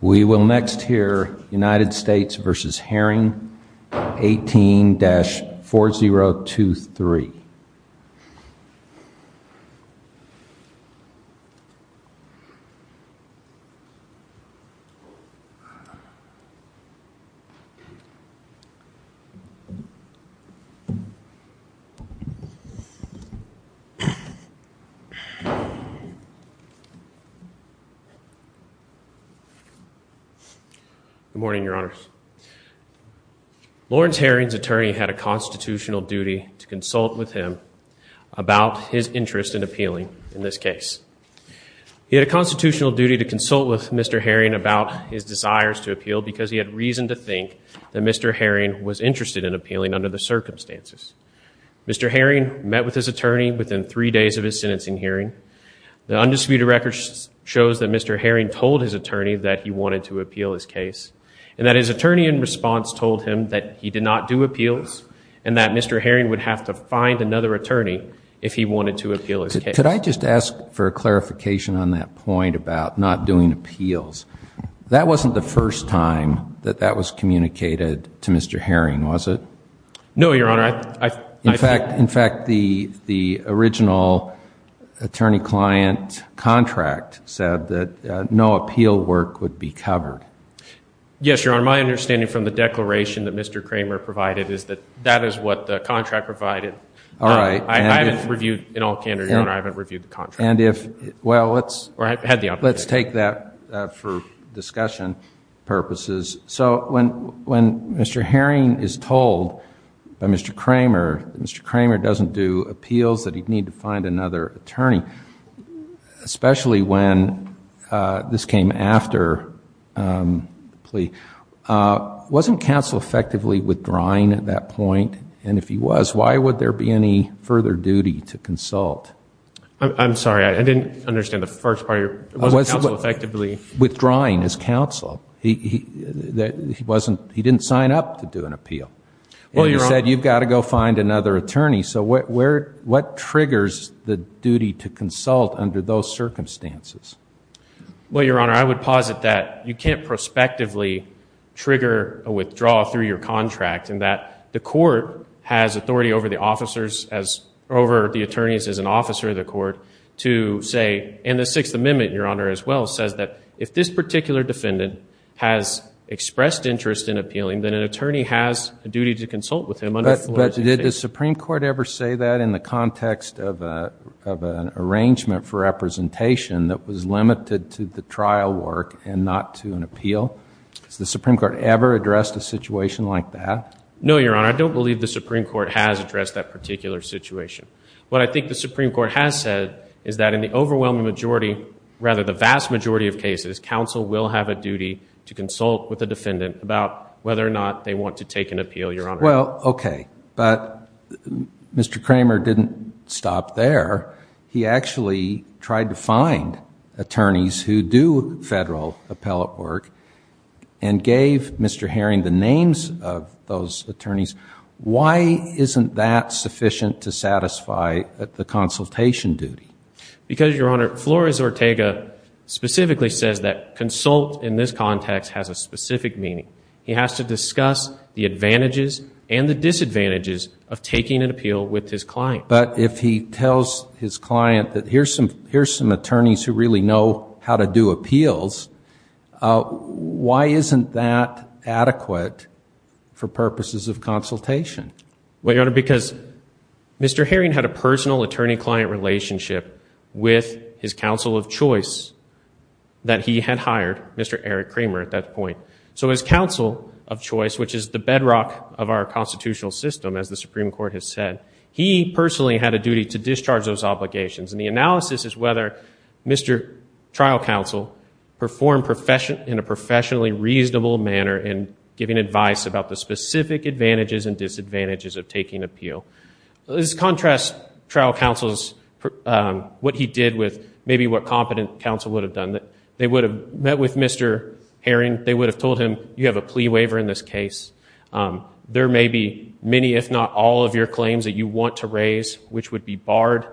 We will next hear United States v. Herring, 18-4023. Good morning, Your Honors. Lawrence Herring's attorney had a constitutional duty to consult with him about his interest in appealing in this case. He had a constitutional duty to consult with Mr. Herring about his desires to appeal because he had reason to think that Mr. Herring was interested in appealing under the circumstances. Mr. Herring met with his attorney within three days of his sentencing hearing. The undisputed record shows that Mr. Herring told his attorney that he wanted to appeal his case, and that his attorney in response told him that he did not do appeals and that Mr. Herring would have to find another attorney if he wanted to appeal his case. Could I just ask for a clarification on that point about not doing appeals? That wasn't the first time that that was communicated to Mr. Herring, was it? No, Your Honor. In fact, the original attorney-client contract said that no appeal work would be covered. Yes, Your Honor. My understanding from the declaration that Mr. Kramer provided is that that is what the contract provided. All right. I haven't reviewed in all candor, Your Honor. I haven't reviewed the contract. Well, let's take that for discussion purposes. So when Mr. Herring is told by Mr. Kramer that Mr. Kramer doesn't do appeals, that he'd need to find another attorney, especially when this came after the plea, wasn't counsel effectively withdrawing at that point? And if he was, why would there be any further duty to consult? I'm sorry. I didn't understand the first part of your question. Wasn't counsel effectively withdrawing as counsel? He didn't sign up to do an appeal. He said, you've got to go find another attorney. So what triggers the duty to consult under those circumstances? Well, Your Honor, I would posit that you can't prospectively trigger a withdrawal through your contract and that the court has authority over the attorneys as an officer of the court to say, and the Sixth Amendment, Your Honor, as well, says that if this particular defendant has expressed interest in appealing, then an attorney has a duty to consult with him under the law. But did the Supreme Court ever say that in the context of an arrangement for representation that was limited to the trial work and not to an appeal? Has the Supreme Court ever addressed a situation like that? No, Your Honor. I don't believe the Supreme Court has addressed that particular situation. What I think the Supreme Court has said is that in the overwhelming majority, rather the vast majority of cases, counsel will have a duty to consult with the defendant about whether or not they want to take an appeal, Your Honor. Well, okay. But Mr. Kramer didn't stop there. He actually tried to find attorneys who do federal appellate work and gave Mr. Herring the names of those attorneys. Why isn't that sufficient to satisfy the consultation duty? Because, Your Honor, Flores-Ortega specifically says that consult in this context has a specific meaning. He has to discuss the advantages and the disadvantages of taking an appeal with his client. But if he tells his client that here's some attorneys who really know how to do appeals, why isn't that adequate for purposes of consultation? Well, Your Honor, because Mr. Herring had a personal attorney-client relationship with his counsel of choice that he had hired, Mr. Eric Kramer, at that point. So his counsel of choice, which is the bedrock of our constitutional system, as the Supreme Court has said, he personally had a duty to discharge those obligations. And the analysis is whether Mr. Trial Counsel performed in a professionally reasonable manner in giving advice about the specific advantages and disadvantages of taking appeal. Let's contrast Trial Counsel's, what he did with maybe what competent counsel would have done. They would have met with Mr. Herring. They would have told him, you have a plea waiver in this case. There may be many, if not all, of your claims that you want to raise, which would be barred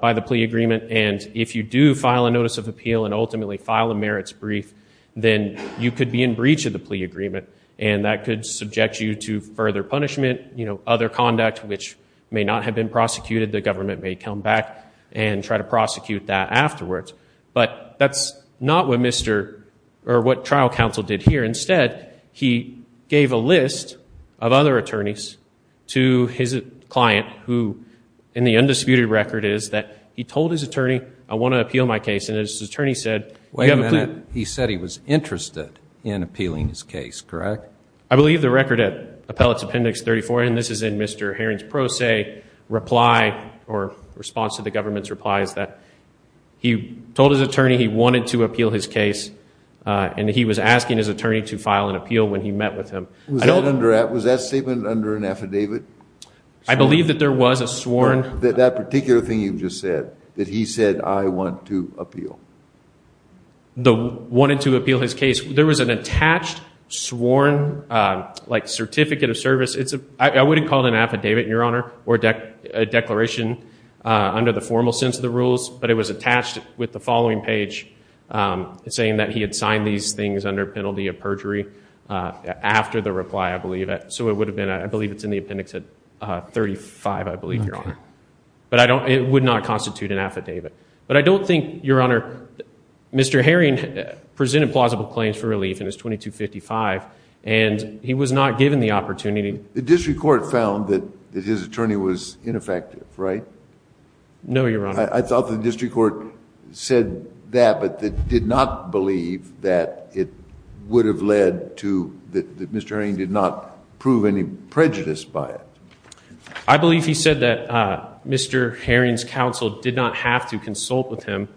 by the plea agreement. And if you do file a notice of appeal and ultimately file a merits brief, then you could be in breach of the plea agreement. And that could subject you to further punishment, other conduct which may not have been prosecuted. The government may come back and try to prosecute that afterwards. But that's not what Trial Counsel did here. Instead, he gave a list of other attorneys to his client who, in the undisputed record, is that he told his attorney, I want to appeal my case. And his attorney said, you have a plea. Wait a minute. He said he was interested in appealing his case, correct? I believe the record at Appellate's Appendix 34, and this is in Mr. Herring's pro se reply or response to the government's reply, is that he told his attorney he wanted to appeal his case. And he was asking his attorney to file an appeal when he met with him. Was that statement under an affidavit? I believe that there was a sworn. That particular thing you just said, that he said, I want to appeal. Wanted to appeal his case. There was an attached sworn certificate of service. I wouldn't call it an affidavit, Your Honor, or a declaration under the formal sense of the rules. But it was attached with the following page saying that he had signed these things under penalty of perjury after the reply, I believe. So it would have been, I believe it's in the appendix at 35, I believe, Your Honor. But it would not constitute an affidavit. But I don't think, Your Honor, Mr. Herring presented plausible claims for relief in his 2255, and he was not given the opportunity. The district court found that his attorney was ineffective, right? No, Your Honor. I thought the district court said that, but it did not believe that it would have led to that Mr. Herring did not prove any prejudice by it. I believe he said that Mr. Herring's counsel did not have to consult with him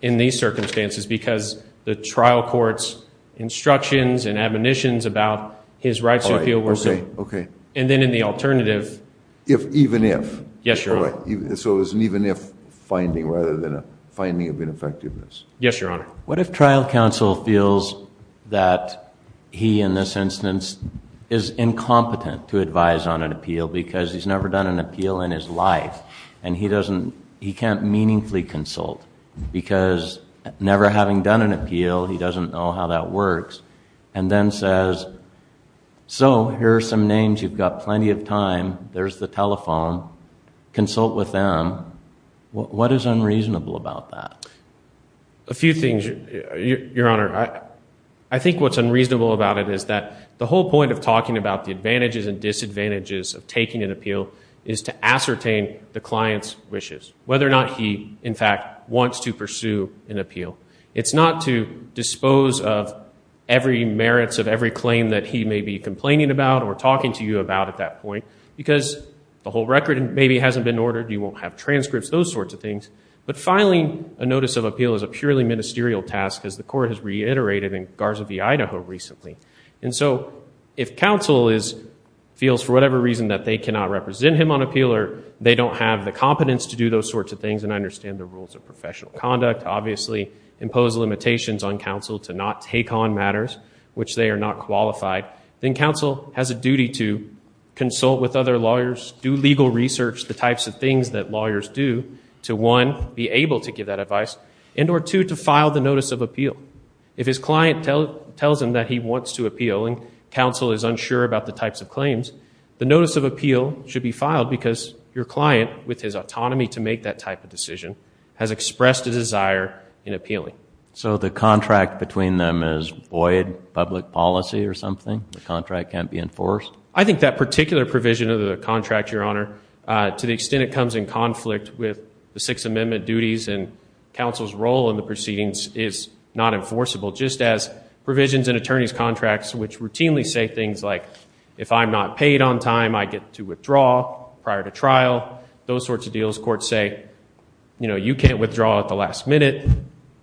in these circumstances because the trial court's instructions and admonitions about his right to appeal were so. And then in the alternative. If, even if. Yes, Your Honor. So it was an even if finding rather than a finding of ineffectiveness. Yes, Your Honor. What if trial counsel feels that he, in this instance, is incompetent to advise on an appeal because he's never done an appeal in his life, and he can't meaningfully consult because never having done an appeal, he doesn't know how that works, and then says, so here are some names, you've got plenty of time, there's the telephone, consult with them. What is unreasonable about that? A few things, Your Honor. I think what's unreasonable about it is that the whole point of talking about the advantages and disadvantages of taking an appeal is to ascertain the client's wishes, whether or not he, in fact, wants to pursue an appeal. It's not to dispose of every merits of every claim that he may be complaining about or talking to you about at that point because the whole record maybe hasn't been ordered, you won't have transcripts, those sorts of things. But filing a notice of appeal is a purely ministerial task, as the Court has reiterated in Garza v. Idaho recently. And so if counsel feels for whatever reason that they cannot represent him on appeal or they don't have the competence to do those sorts of things, and I understand the rules of professional conduct, obviously impose limitations on counsel to not take on matters which they are not qualified, then counsel has a duty to consult with other lawyers, do legal research, the types of things that lawyers do, to one, be able to give that advice, and or two, to file the notice of appeal. If his client tells him that he wants to appeal and counsel is unsure about the types of claims, the notice of appeal should be filed because your client, with his autonomy to make that type of decision, has expressed a desire in appealing. So the contract between them is void public policy or something? The contract can't be enforced? I think that particular provision of the contract, Your Honor, to the extent it comes in conflict with the Sixth Amendment duties and counsel's role in the proceedings is not enforceable, just as provisions in attorney's contracts which routinely say things like, if I'm not paid on time, I get to withdraw prior to trial, those sorts of deals. Those courts say, you can't withdraw at the last minute,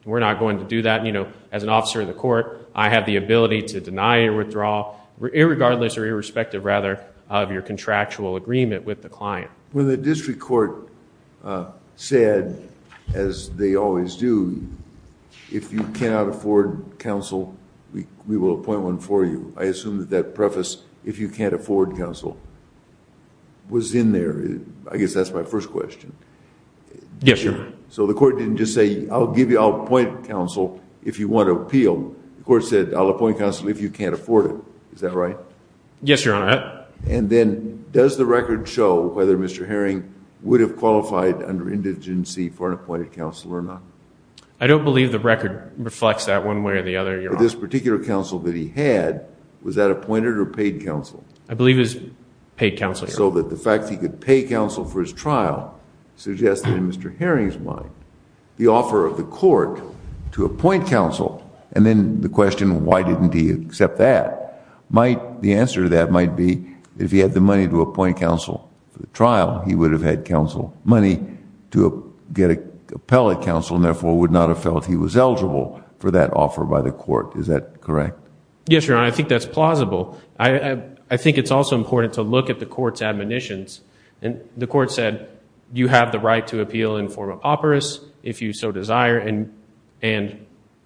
we're not going to do that. As an officer of the court, I have the ability to deny a withdrawal, irregardless or irrespective, rather, of your contractual agreement with the client. When the district court said, as they always do, if you cannot afford counsel, we will appoint one for you, I assume that that preface, if you can't afford counsel, was in there. I guess that's my first question. Yes, Your Honor. So the court didn't just say, I'll appoint counsel if you want to appeal. The court said, I'll appoint counsel if you can't afford it. Is that right? Yes, Your Honor. And then does the record show whether Mr. Herring would have qualified under indigency for an appointed counsel or not? I don't believe the record reflects that one way or the other, Your Honor. But this particular counsel that he had, was that appointed or paid counsel? I believe it was paid counsel, Your Honor. So that the fact that he could pay counsel for his trial suggests that, in Mr. Herring's mind, the offer of the court to appoint counsel and then the question, why didn't he accept that, the answer to that might be if he had the money to appoint counsel for the trial, he would have had counsel money to get appellate counsel and therefore would not have felt he was eligible for that offer by the court. Is that correct? Yes, Your Honor. I think that's plausible. I think it's also important to look at the court's admonitions. The court said, you have the right to appeal in form of operas if you so desire, and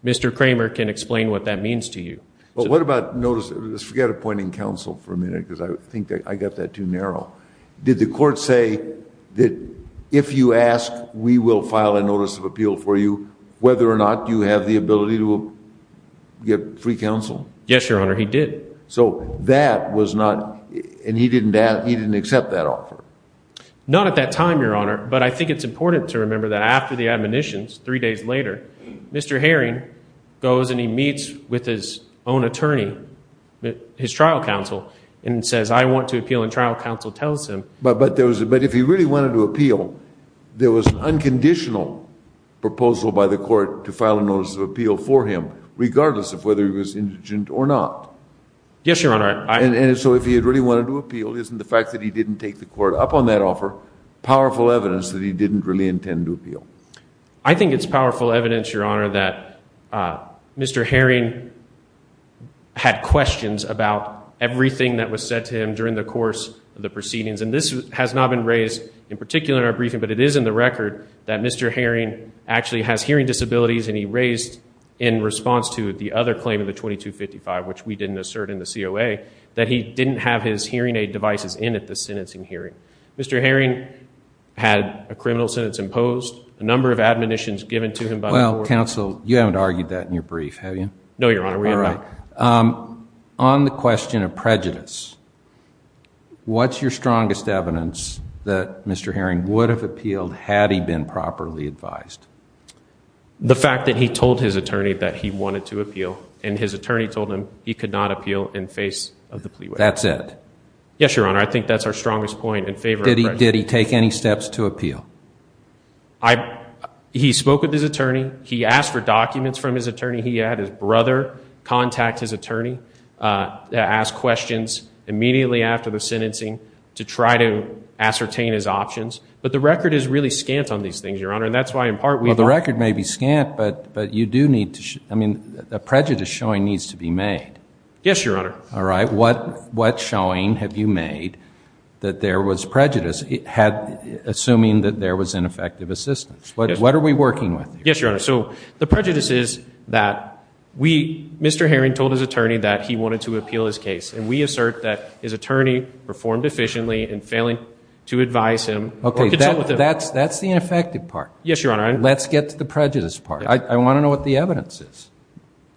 Mr. Kramer can explain what that means to you. But what about notice? Let's forget appointing counsel for a minute because I think I got that too narrow. Did the court say that if you ask, we will file a notice of appeal for you, whether or not you have the ability to get free counsel? Yes, Your Honor, he did. So that was not, and he didn't accept that offer. Not at that time, Your Honor, but I think it's important to remember that after the admonitions, three days later, Mr. Herring goes and he meets with his own attorney, his trial counsel, and says, I want to appeal, and trial counsel tells him. But if he really wanted to appeal, there was an unconditional proposal by the court to file a notice of appeal for him, regardless of whether he was indigent or not. Yes, Your Honor. And so if he had really wanted to appeal, isn't the fact that he didn't take the court up on that offer powerful evidence that he didn't really intend to appeal? I think it's powerful evidence, Your Honor, that Mr. Herring had questions about everything that was said to him during the course of the proceedings. And this has not been raised in particular in our briefing, but it is in the record that Mr. Herring actually has hearing disabilities and he raised in response to the other claim in the 2255, which we didn't assert in the COA, that he didn't have his hearing aid devices in at the sentencing hearing. Mr. Herring had a criminal sentence imposed, a number of admonitions given to him by the court. Well, counsel, you haven't argued that in your brief, have you? No, Your Honor, we have not. All right. On the question of prejudice, what's your strongest evidence that Mr. Herring would have appealed had he been properly advised? The fact that he told his attorney that he wanted to appeal and his attorney told him he could not appeal in face of the plea waiver. That's it? Yes, Your Honor. I think that's our strongest point in favor of prejudice. Did he take any steps to appeal? He spoke with his attorney. He asked for documents from his attorney. He had his brother contact his attorney, ask questions immediately after the sentencing to try to ascertain his options. But the record is really scant on these things, Your Honor, and that's why, in part, we don't... Well, the record may be scant, but you do need to show, I mean, a prejudice showing needs to be made. Yes, Your Honor. All right. What showing have you made that there was prejudice assuming that there was ineffective assistance? What are we working with here? Yes, Your Honor. So the prejudice is that Mr. Herring told his attorney that he wanted to appeal his case, and we assert that his attorney performed efficiently in failing to advise him or consult with him. Well, that's the ineffective part. Yes, Your Honor. Let's get to the prejudice part. I want to know what the evidence is.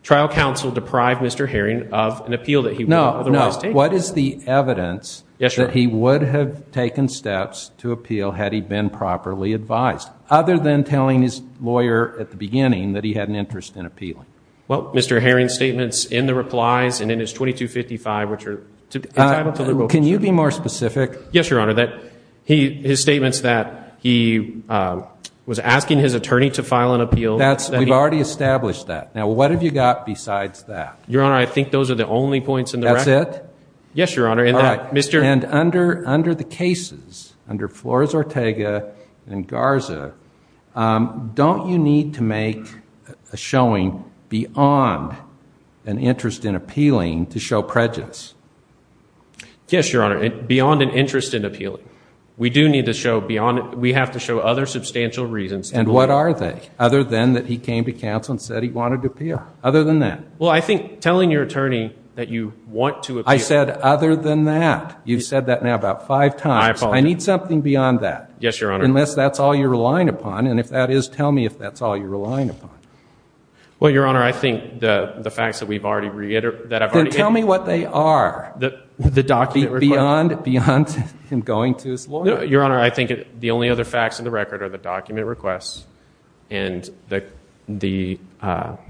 Trial counsel deprived Mr. Herring of an appeal that he otherwise... No, no. What is the evidence that he would have taken steps to appeal had he been properly advised, other than telling his lawyer at the beginning that he had an interest in appealing? Well, Mr. Herring's statements in the replies and in his 2255, which are entitled to... Can you be more specific? Yes, Your Honor. His statements that he was asking his attorney to file an appeal... We've already established that. Now, what have you got besides that? Your Honor, I think those are the only points in the record. That's it? Yes, Your Honor. And under the cases, under Flores-Ortega and Garza, don't you need to make a showing beyond an interest in appealing to show prejudice? Yes, Your Honor. Beyond an interest in appealing. We do need to show beyond it. We have to show other substantial reasons. And what are they, other than that he came to counsel and said he wanted to appeal? Other than that? Well, I think telling your attorney that you want to appeal... I said other than that. You've said that now about five times. I apologize. I need something beyond that. Yes, Your Honor. Unless that's all you're relying upon, and if that is, tell me if that's all you're relying upon. Well, Your Honor, I think the facts that we've already reiterated... Then tell me what they are. The document reply? Beyond him going to his lawyer. No, Your Honor. I think the only other facts in the record are the document requests and the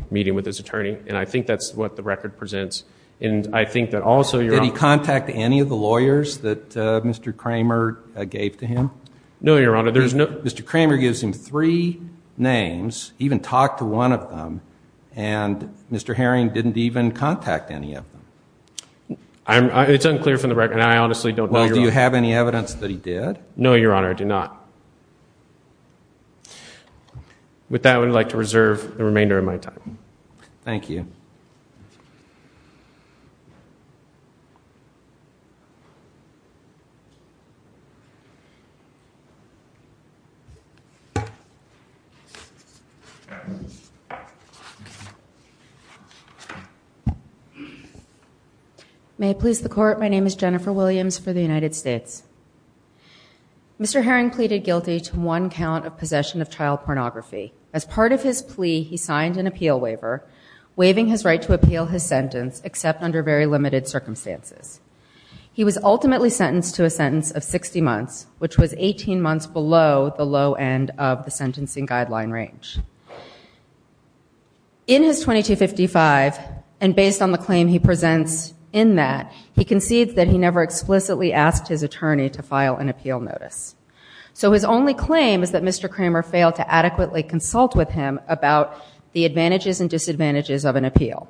meeting with his attorney, and I think that's what the record presents. And I think that also... Did he contact any of the lawyers that Mr. Kramer gave to him? No, Your Honor. Mr. Kramer gives him three names, even talked to one of them, and Mr. Herring didn't even contact any of them. It's unclear from the record, and I honestly don't know. Well, do you have any evidence that he did? No, Your Honor, I do not. With that, I would like to reserve the remainder of my time. Thank you. May it please the Court. My name is Jennifer Williams for the United States. Mr. Herring pleaded guilty to one count of possession of child pornography. As part of his plea, he signed an appeal waiver, waiving his right to appeal his sentence, except under very limited circumstances. He was ultimately sentenced to a sentence of 60 months, which was 18 months below the low end of the sentencing guideline range. In his 2255, and based on the claim he presents in that, he concedes that he never explicitly asked his attorney to file an appeal notice. So his only claim is that Mr. Kramer failed to adequately consult with him about the advantages and disadvantages of an appeal.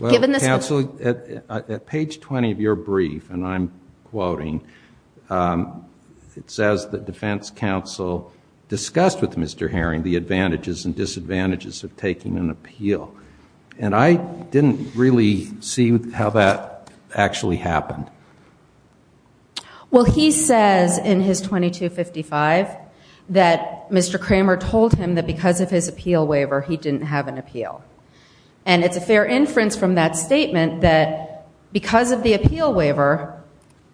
Well, counsel, at page 20 of your brief, and I'm quoting, it says that defense counsel discussed with Mr. Herring the advantages and disadvantages of taking an appeal. And I didn't really see how that actually happened. Well, he says in his 2255 that Mr. Kramer told him that because of his appeal waiver, he didn't have an appeal. And it's a fair inference from that statement that because of the appeal waiver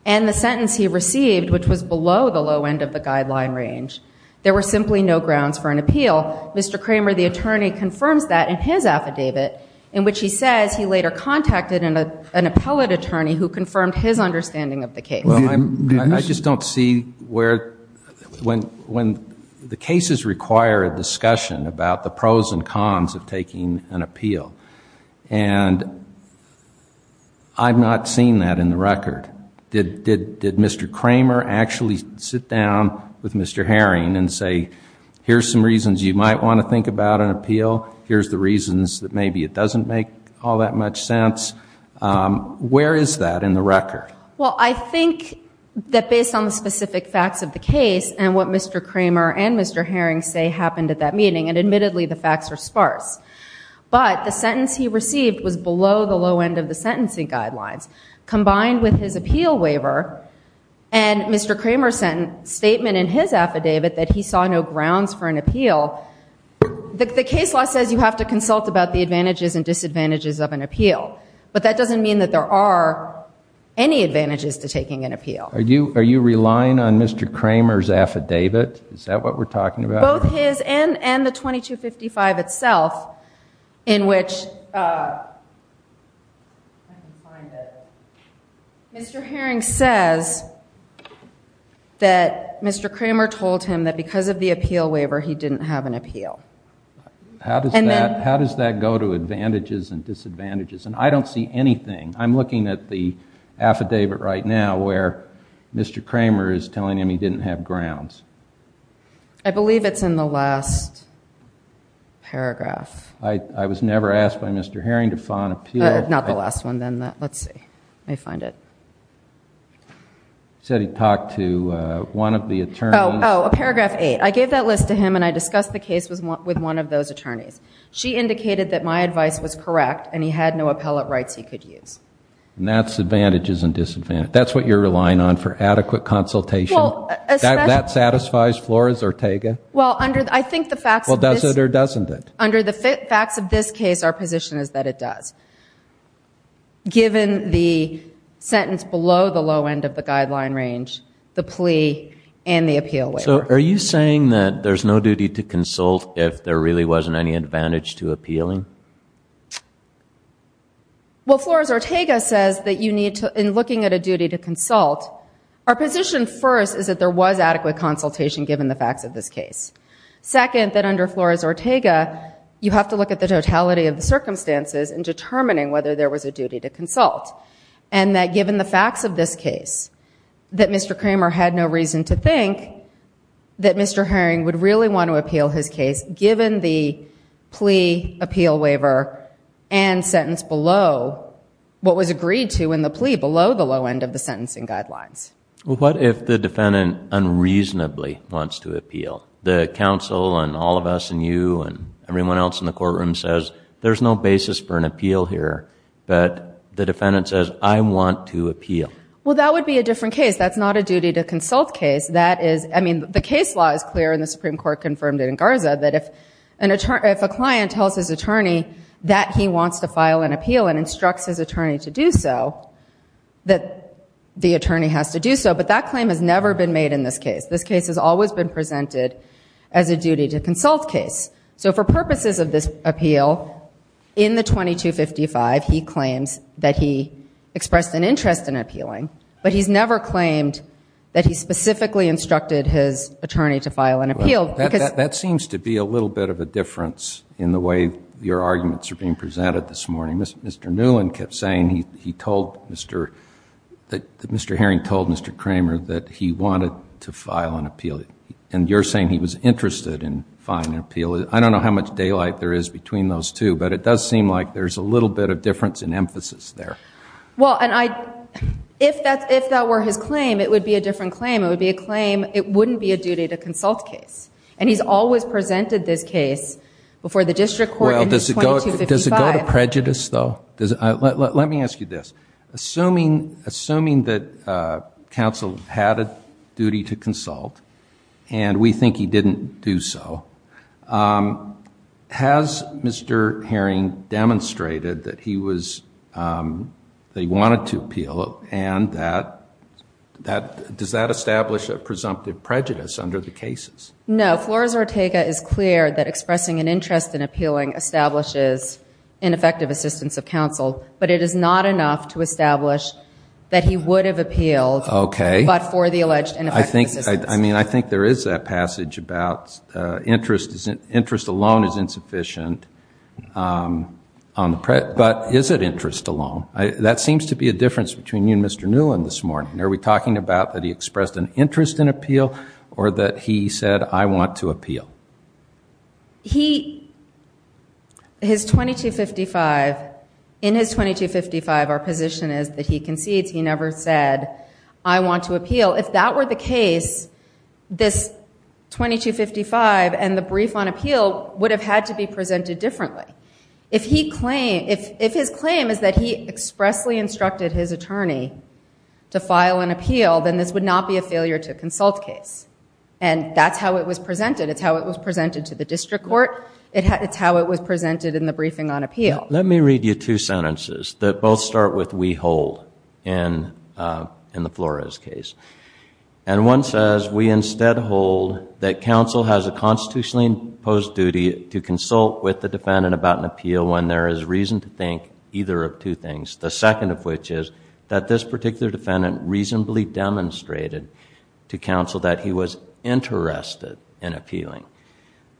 and the sentence he received, which was below the low end of the guideline range, there were simply no grounds for an appeal. Mr. Kramer, the attorney, confirms that in his affidavit, in which he says he later contacted an appellate attorney who confirmed his understanding of the case. Well, I just don't see where the cases require a discussion about the pros and cons of taking an appeal. And I've not seen that in the record. Did Mr. Kramer actually sit down with Mr. Herring and say, here's some reasons you might want to think about an appeal, here's the reasons that maybe it doesn't make all that much sense? Where is that in the record? Well, I think that based on the specific facts of the case and what Mr. Kramer and Mr. Herring say happened at that meeting, and admittedly the facts are sparse, but the sentence he received was below the low end of the sentencing guidelines. Combined with his appeal waiver and Mr. Kramer's statement in his affidavit that he saw no grounds for an appeal, the case law says you have to consult about the advantages and disadvantages of an appeal. But that doesn't mean that there are any advantages to taking an appeal. Are you relying on Mr. Kramer's affidavit? Is that what we're talking about? Both his and the 2255 itself in which Mr. Herring says that Mr. Kramer told him that because of the appeal waiver he didn't have an appeal. How does that go to advantages and disadvantages? I don't see anything. I'm looking at the affidavit right now where Mr. Kramer is telling him he didn't have grounds. I believe it's in the last paragraph. I was never asked by Mr. Herring to file an appeal. Not the last one then. Let's see. Let me find it. He said he talked to one of the attorneys. Oh, paragraph 8. I gave that list to him and I discussed the case with one of those attorneys. She indicated that my advice was correct and he had no appellate rights he could use. And that's advantages and disadvantages. That's what you're relying on for adequate consultation? That satisfies Flores-Ortega? Well, under the facts of this case, our position is that it does, given the sentence below the low end of the guideline range, the plea, and the appeal waiver. So are you saying that there's no duty to consult if there really wasn't any advantage to appealing? Well, Flores-Ortega says that in looking at a duty to consult, our position first is that there was adequate consultation given the facts of this case. Second, that under Flores-Ortega, you have to look at the totality of the circumstances in determining whether there was a duty to consult. And that given the facts of this case, that Mr. Kramer had no reason to think that Mr. Herring would really want to appeal his case given the plea, appeal waiver, and sentence below what was agreed to in the plea, below the low end of the sentencing guidelines. Well, what if the defendant unreasonably wants to appeal? The counsel and all of us and you and everyone else in the courtroom says, there's no basis for an appeal here. But the defendant says, I want to appeal. Well, that would be a different case. That's not a duty to consult case. I mean, the case law is clear, and the Supreme Court confirmed it in Garza, that if a client tells his attorney that he wants to file an appeal and instructs his attorney to do so, that the attorney has to do so. But that claim has never been made in this case. This case has always been presented as a duty to consult case. So for purposes of this appeal, in the 2255, he claims that he expressed an interest in appealing, but he's never claimed that he specifically instructed his attorney to file an appeal. That seems to be a little bit of a difference in the way your arguments are being presented this morning. Mr. Newland kept saying that Mr. Herring told Mr. Kramer that he wanted to file an appeal, and you're saying he was interested in filing an appeal. I don't know how much daylight there is between those two, but it does seem like there's a little bit of difference in emphasis there. Well, if that were his claim, it would be a different claim. If that were his claim, it would be a claim, it wouldn't be a duty to consult case. And he's always presented this case before the district court in his 2255. Does it go to prejudice, though? Let me ask you this. Assuming that counsel had a duty to consult, and we think he didn't do so, has Mr. Herring demonstrated that he wanted to appeal, and does that establish a presumptive prejudice under the cases? No. Flores-Ortega is clear that expressing an interest in appealing establishes ineffective assistance of counsel, but it is not enough to establish that he would have appealed but for the alleged ineffective assistance. I think there is that passage about interest alone is insufficient. But is it interest alone? That seems to be a difference between you and Mr. Newlin this morning. Are we talking about that he expressed an interest in appeal or that he said, I want to appeal? In his 2255, our position is that he concedes. He never said, I want to appeal. If that were the case, this 2255 and the brief on appeal would have had to be presented differently. If his claim is that he expressly instructed his attorney to file an appeal, then this would not be a failure to consult case. And that's how it was presented. It's how it was presented to the district court. Let me read you two sentences that both start with we hold in the Flores case. And one says, we instead hold that counsel has a constitutionally imposed duty to consult with the defendant about an appeal when there is reason to think either of two things. The second of which is that this particular defendant reasonably demonstrated to counsel that he was interested in appealing.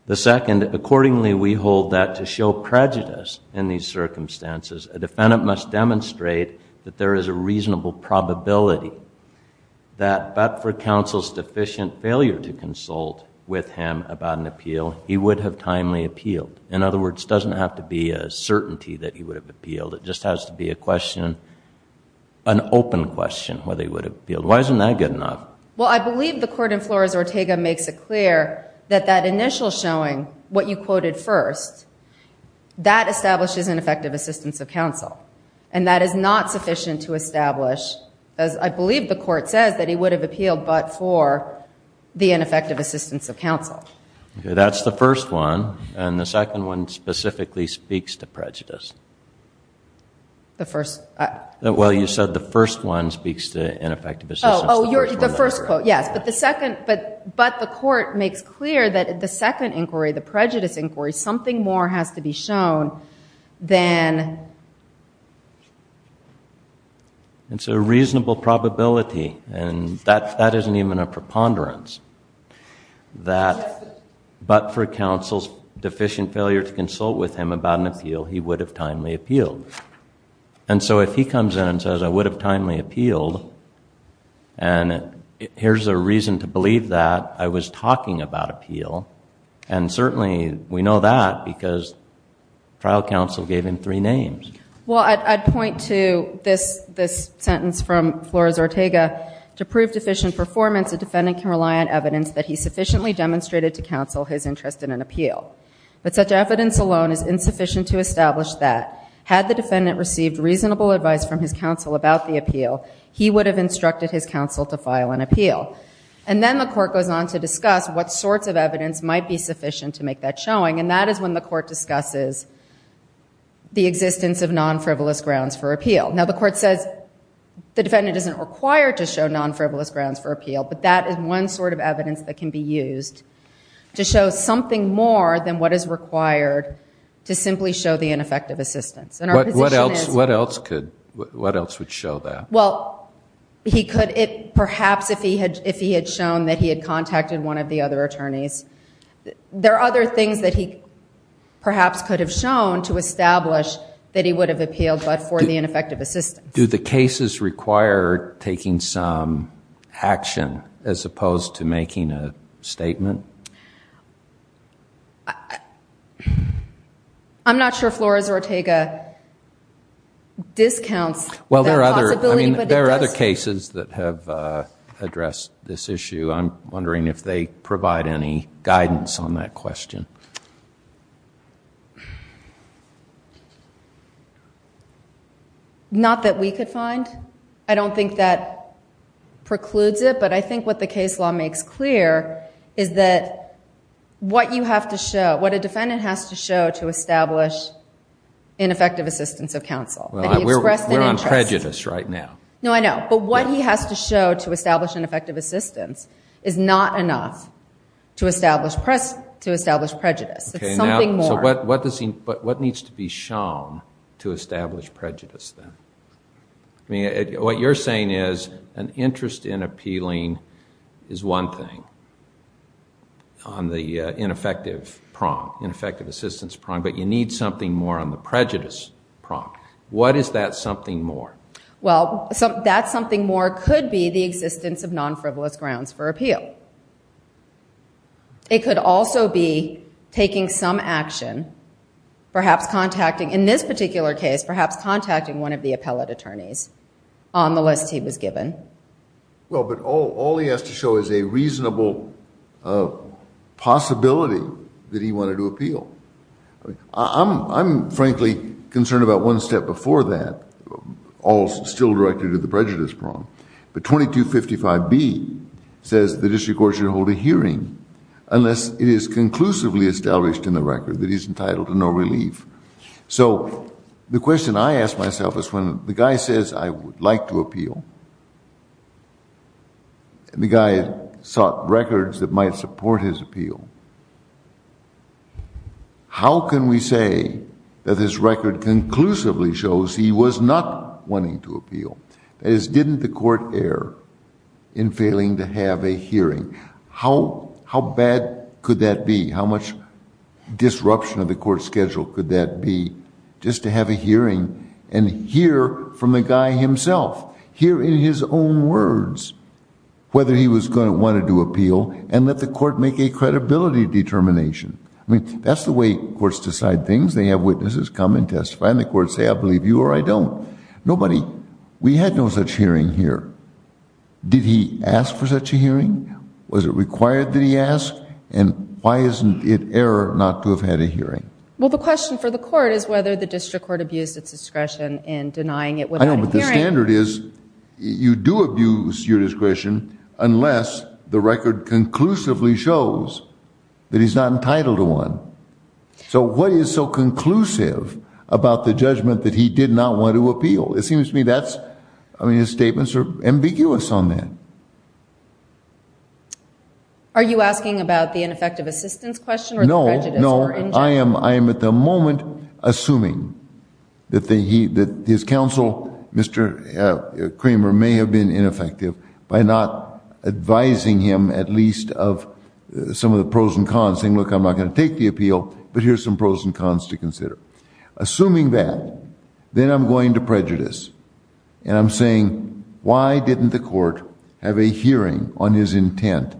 The second, accordingly, we hold that to show prejudice in these circumstances. A defendant must demonstrate that there is a reasonable probability that, but for counsel's deficient failure to consult with him about an appeal, he would have timely appealed. In other words, it doesn't have to be a certainty that he would have appealed. It just has to be a question, an open question whether he would have appealed. Why isn't that good enough? Well, I believe the court in Flores-Ortega makes it clear that that initial showing, what you quoted first, that establishes ineffective assistance of counsel. And that is not sufficient to establish, as I believe the court says, that he would have appealed but for the ineffective assistance of counsel. That's the first one. And the second one specifically speaks to prejudice. The first? Well, you said the first one speaks to ineffective assistance of counsel. Oh, the first quote, yes. But the court makes clear that the second inquiry, the prejudice inquiry, something more has to be shown than... It's a reasonable probability, and that isn't even a preponderance, that but for counsel's deficient failure to consult with him about an appeal, he would have timely appealed. And so if he comes in and says, I would have timely appealed, and here's a reason to believe that I was talking about appeal, and certainly we know that because trial counsel gave him three names. Well, I'd point to this sentence from Flores-Ortega. To prove deficient performance, a defendant can rely on evidence that he sufficiently demonstrated to counsel his interest in an appeal. But such evidence alone is insufficient to establish that, had the defendant received reasonable advice from his counsel about the appeal, he would have instructed his counsel to file an appeal. And then the court goes on to discuss what sorts of evidence might be sufficient to make that showing, and that is when the court discusses the existence of non-frivolous grounds for appeal. Now, the court says the defendant isn't required to show non-frivolous grounds for appeal, but that is one sort of evidence that can be used to show something more than what is required to simply show the ineffective assistance. What else would show that? Well, perhaps if he had shown that he had contacted one of the other attorneys. There are other things that he perhaps could have shown to establish that he would have appealed but for the ineffective assistance. Do the cases require taking some action as opposed to making a statement? I'm not sure Flores or Ortega discounts that possibility. Well, there are other cases that have addressed this issue. I'm wondering if they provide any guidance on that question. Not that we could find. I don't think that precludes it, but I think what the case law makes clear is that what a defendant has to show to establish ineffective assistance of counsel. We're on prejudice right now. No, I know. But what he has to show to establish ineffective assistance is not enough to establish prejudice. It's something more. What needs to be shown to establish prejudice, then? What you're saying is an interest in appealing is one thing on the ineffective assistance prong, but you need something more on the prejudice prong. What is that something more? Well, that something more could be the existence of non-frivolous grounds for appeal. It could also be taking some action, perhaps contacting, in this particular case, perhaps contacting one of the appellate attorneys on the list he was given. Well, but all he has to show is a reasonable possibility that he wanted to appeal. I'm frankly concerned about one step before that, all still directed to the prejudice prong. But 2255B says the district court should hold a hearing unless it is conclusively established in the record that he's entitled to no relief. So the question I ask myself is when the guy says, I would like to appeal, and the guy sought records that might support his appeal, how can we say that his record conclusively shows he was not wanting to appeal? That is, didn't the court err in failing to have a hearing? How bad could that be? How much disruption of the court schedule could that be just to have a hearing and hear from the guy himself, hear in his own words whether he was going to want to do appeal and let the court make a credibility determination? I mean, that's the way courts decide things. They have witnesses come and testify, and the courts say, I believe you or I don't. Nobody, we had no such hearing here. Did he ask for such a hearing? Was it required that he ask? And why isn't it error not to have had a hearing? Well, the question for the court is whether the district court abused its discretion in denying it without a hearing. I know, but the standard is you do abuse your discretion unless the record conclusively shows that he's not entitled to one. So what is so conclusive about the judgment that he did not want to appeal? It seems to me that's, I mean, his statements are ambiguous on that. Are you asking about the ineffective assistance question or the prejudice or injury? No, no, I am at the moment assuming that his counsel, Mr. Kramer, may have been ineffective by not advising him at least of some of the pros and cons, saying, look, I'm not going to take the appeal, but here's some pros and cons to consider. Assuming that, then I'm going to prejudice, and I'm saying, why didn't the court have a hearing on his intent?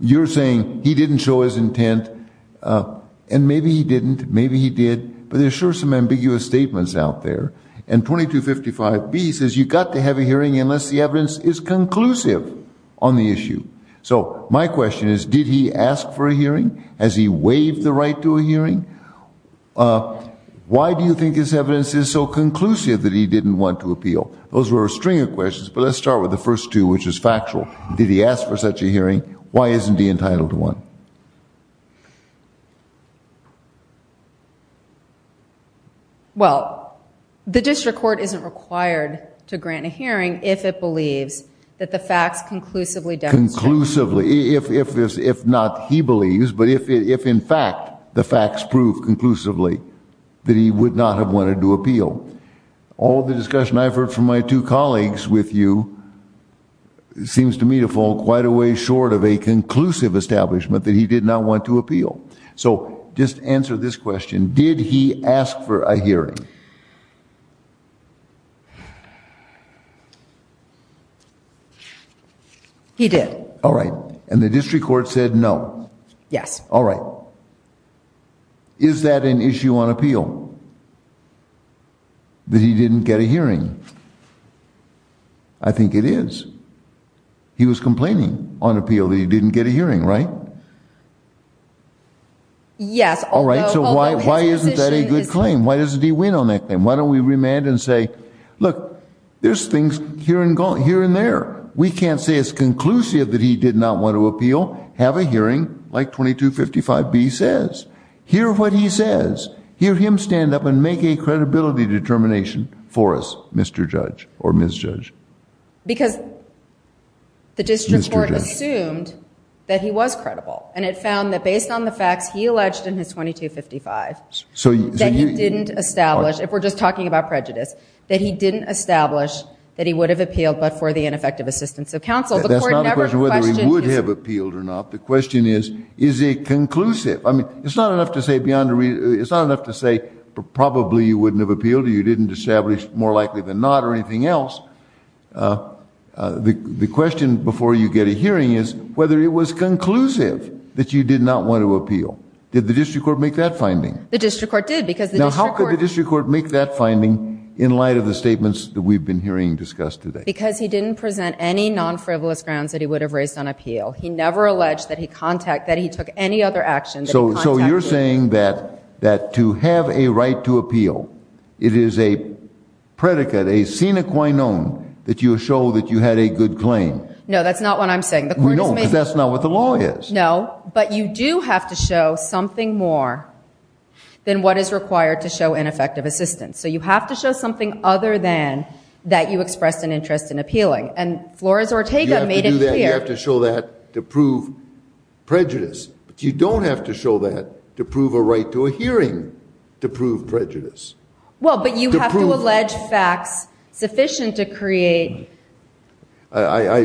You're saying he didn't show his intent, and maybe he didn't, maybe he did, but there's sure some ambiguous statements out there. And 2255B says you've got to have a hearing unless the evidence is conclusive on the issue. So my question is, did he ask for a hearing? Has he waived the right to a hearing? Why do you think his evidence is so conclusive that he didn't want to appeal? Those were a string of questions, but let's start with the first two, which is factual. Did he ask for such a hearing? Why isn't he entitled to one? Well, the district court isn't required to grant a hearing if it believes that the facts conclusively demonstrate. Conclusively, if not he believes, but if in fact the facts prove conclusively that he would not have wanted to appeal. All the discussion I've heard from my two colleagues with you seems to me to fall quite a way short of a conclusive establishment. That he did not want to appeal. So just answer this question. Did he ask for a hearing? He did. All right. And the district court said no. Yes. All right. Is that an issue on appeal? That he didn't get a hearing? I think it is. He was complaining on appeal that he didn't get a hearing, right? Yes. All right. So why isn't that a good claim? Why doesn't he win on that claim? Why don't we remand and say, look, there's things here and there. We can't say it's conclusive that he did not want to appeal. Have a hearing like 2255B says. Hear what he says. Hear him stand up and make a credibility determination for us, Mr. Judge or Ms. Judge. Because the district court assumed that he was credible. And it found that based on the facts he alleged in his 2255 that he didn't establish, if we're just talking about prejudice, that he didn't establish that he would have appealed but for the ineffective assistance of counsel. That's not the question whether he would have appealed or not. The question is, is it conclusive? I mean, it's not enough to say beyond a reason. It's not enough to say probably you wouldn't have appealed or you didn't establish more likely than not or anything else. The question before you get a hearing is whether it was conclusive that you did not want to appeal. Did the district court make that finding? The district court did. Because how could the district court make that finding in light of the statements that we've been hearing discussed today? Because he didn't present any non-frivolous grounds that he would have raised on appeal. He never alleged that he contact that he took any other actions. So you're saying that to have a right to appeal, it is a predicate, a sine qua non, that you show that you had a good claim. No, that's not what I'm saying. No, because that's not what the law is. No, but you do have to show something more than what is required to show ineffective assistance. So you have to show something other than that you expressed an interest in appealing. And Flores Ortega made it clear. You have to show that to prove prejudice. But you don't have to show that to prove a right to a hearing to prove prejudice. Well, but you have to allege facts sufficient to create. I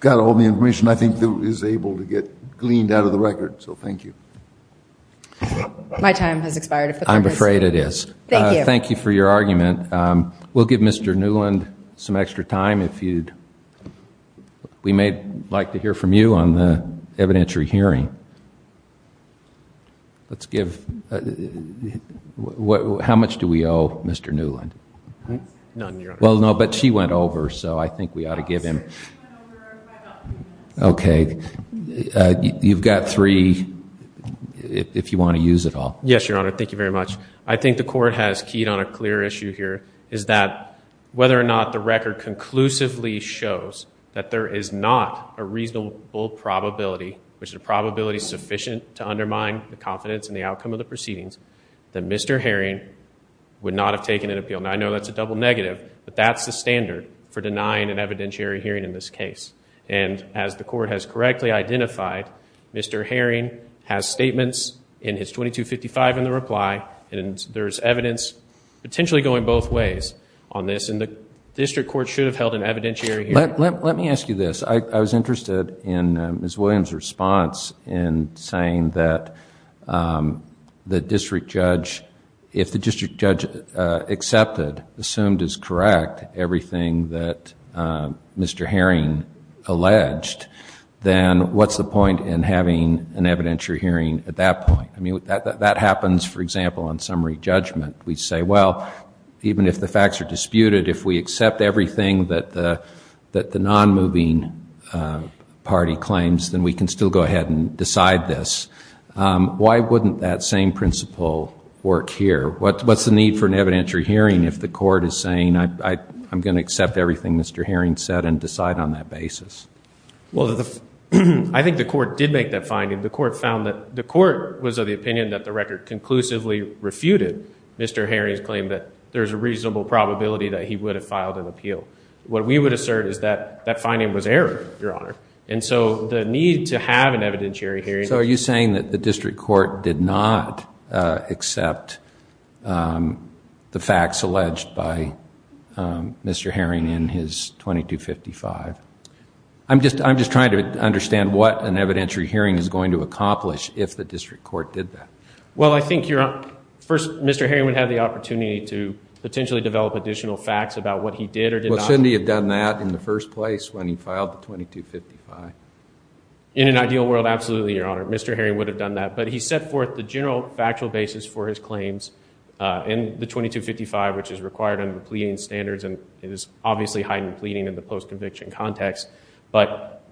got all the information I think is able to get gleaned out of the record. So thank you. My time has expired. I'm afraid it is. Thank you. Thank you for your argument. We'll give Mr. Newland some extra time. We may like to hear from you on the evidentiary hearing. How much do we owe Mr. Newland? None, Your Honor. Well, no, but she went over, so I think we ought to give him. Okay. You've got three if you want to use it all. Yes, Your Honor. Thank you very much. I think the court has keyed on a clear issue here, is that whether or not the record conclusively shows that there is not a reasonable probability, which is a probability sufficient to undermine the confidence in the outcome of the proceedings, that Mr. Herring would not have taken an appeal. Now, I know that's a double negative, but that's the standard for denying an evidentiary hearing in this case. And as the court has correctly identified, Mr. Herring has statements in his 2255 in the reply, and there's evidence potentially going both ways on this, and the district court should have held an evidentiary hearing. Let me ask you this. I was interested in Ms. Williams' response in saying that the district judge, if the district judge accepted, assumed as correct, everything that Mr. Herring alleged, then what's the point in having an evidentiary hearing at that point? I mean, that happens, for example, on summary judgment. We say, well, even if the facts are disputed, if we accept everything that the non-moving party claims, then we can still go ahead and decide this. Why wouldn't that same principle work here? What's the need for an evidentiary hearing if the court is saying, I'm going to accept everything Mr. Herring said and decide on that basis? Well, I think the court did make that finding. The court was of the opinion that the record conclusively refuted Mr. Herring's claim that there's a reasonable probability that he would have filed an appeal. What we would assert is that that finding was error, Your Honor. And so the need to have an evidentiary hearing. So are you saying that the district court did not accept the facts alleged by Mr. Herring in his 2255? I'm just trying to understand what an evidentiary hearing is going to accomplish if the district court did that. Well, I think first Mr. Herring would have the opportunity to potentially develop additional facts about what he did or did not. Well, shouldn't he have done that in the first place when he filed the 2255? In an ideal world, absolutely, Your Honor. Mr. Herring would have done that. But he set forth the general factual basis for his claims in the 2255, which is required under the pleading standards and is obviously heightened pleading in the post-conviction context. But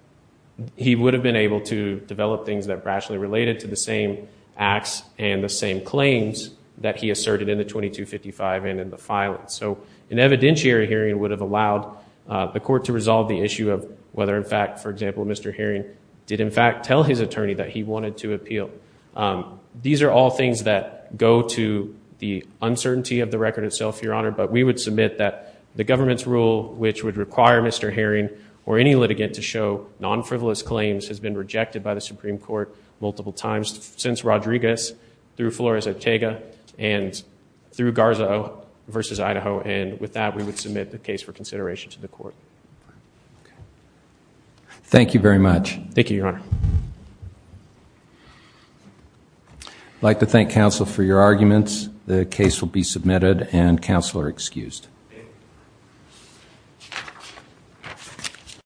he would have been able to develop things that are actually related to the same acts and the same claims that he asserted in the 2255 and in the filing. So an evidentiary hearing would have allowed the court to resolve the issue of whether, in fact, for example, Mr. Herring did in fact tell his attorney that he wanted to appeal. These are all things that go to the uncertainty of the record itself, Your Honor. But we would submit that the government's rule, which would require Mr. Herring or any litigant to show non-frivolous claims, has been rejected by the Supreme Court multiple times since Rodriguez through Flores-Otega and through Garza versus Idaho. And with that, we would submit the case for consideration to the court. Thank you very much. Thank you, Your Honor. I'd like to thank counsel for your arguments. The case will be submitted and counsel are excused.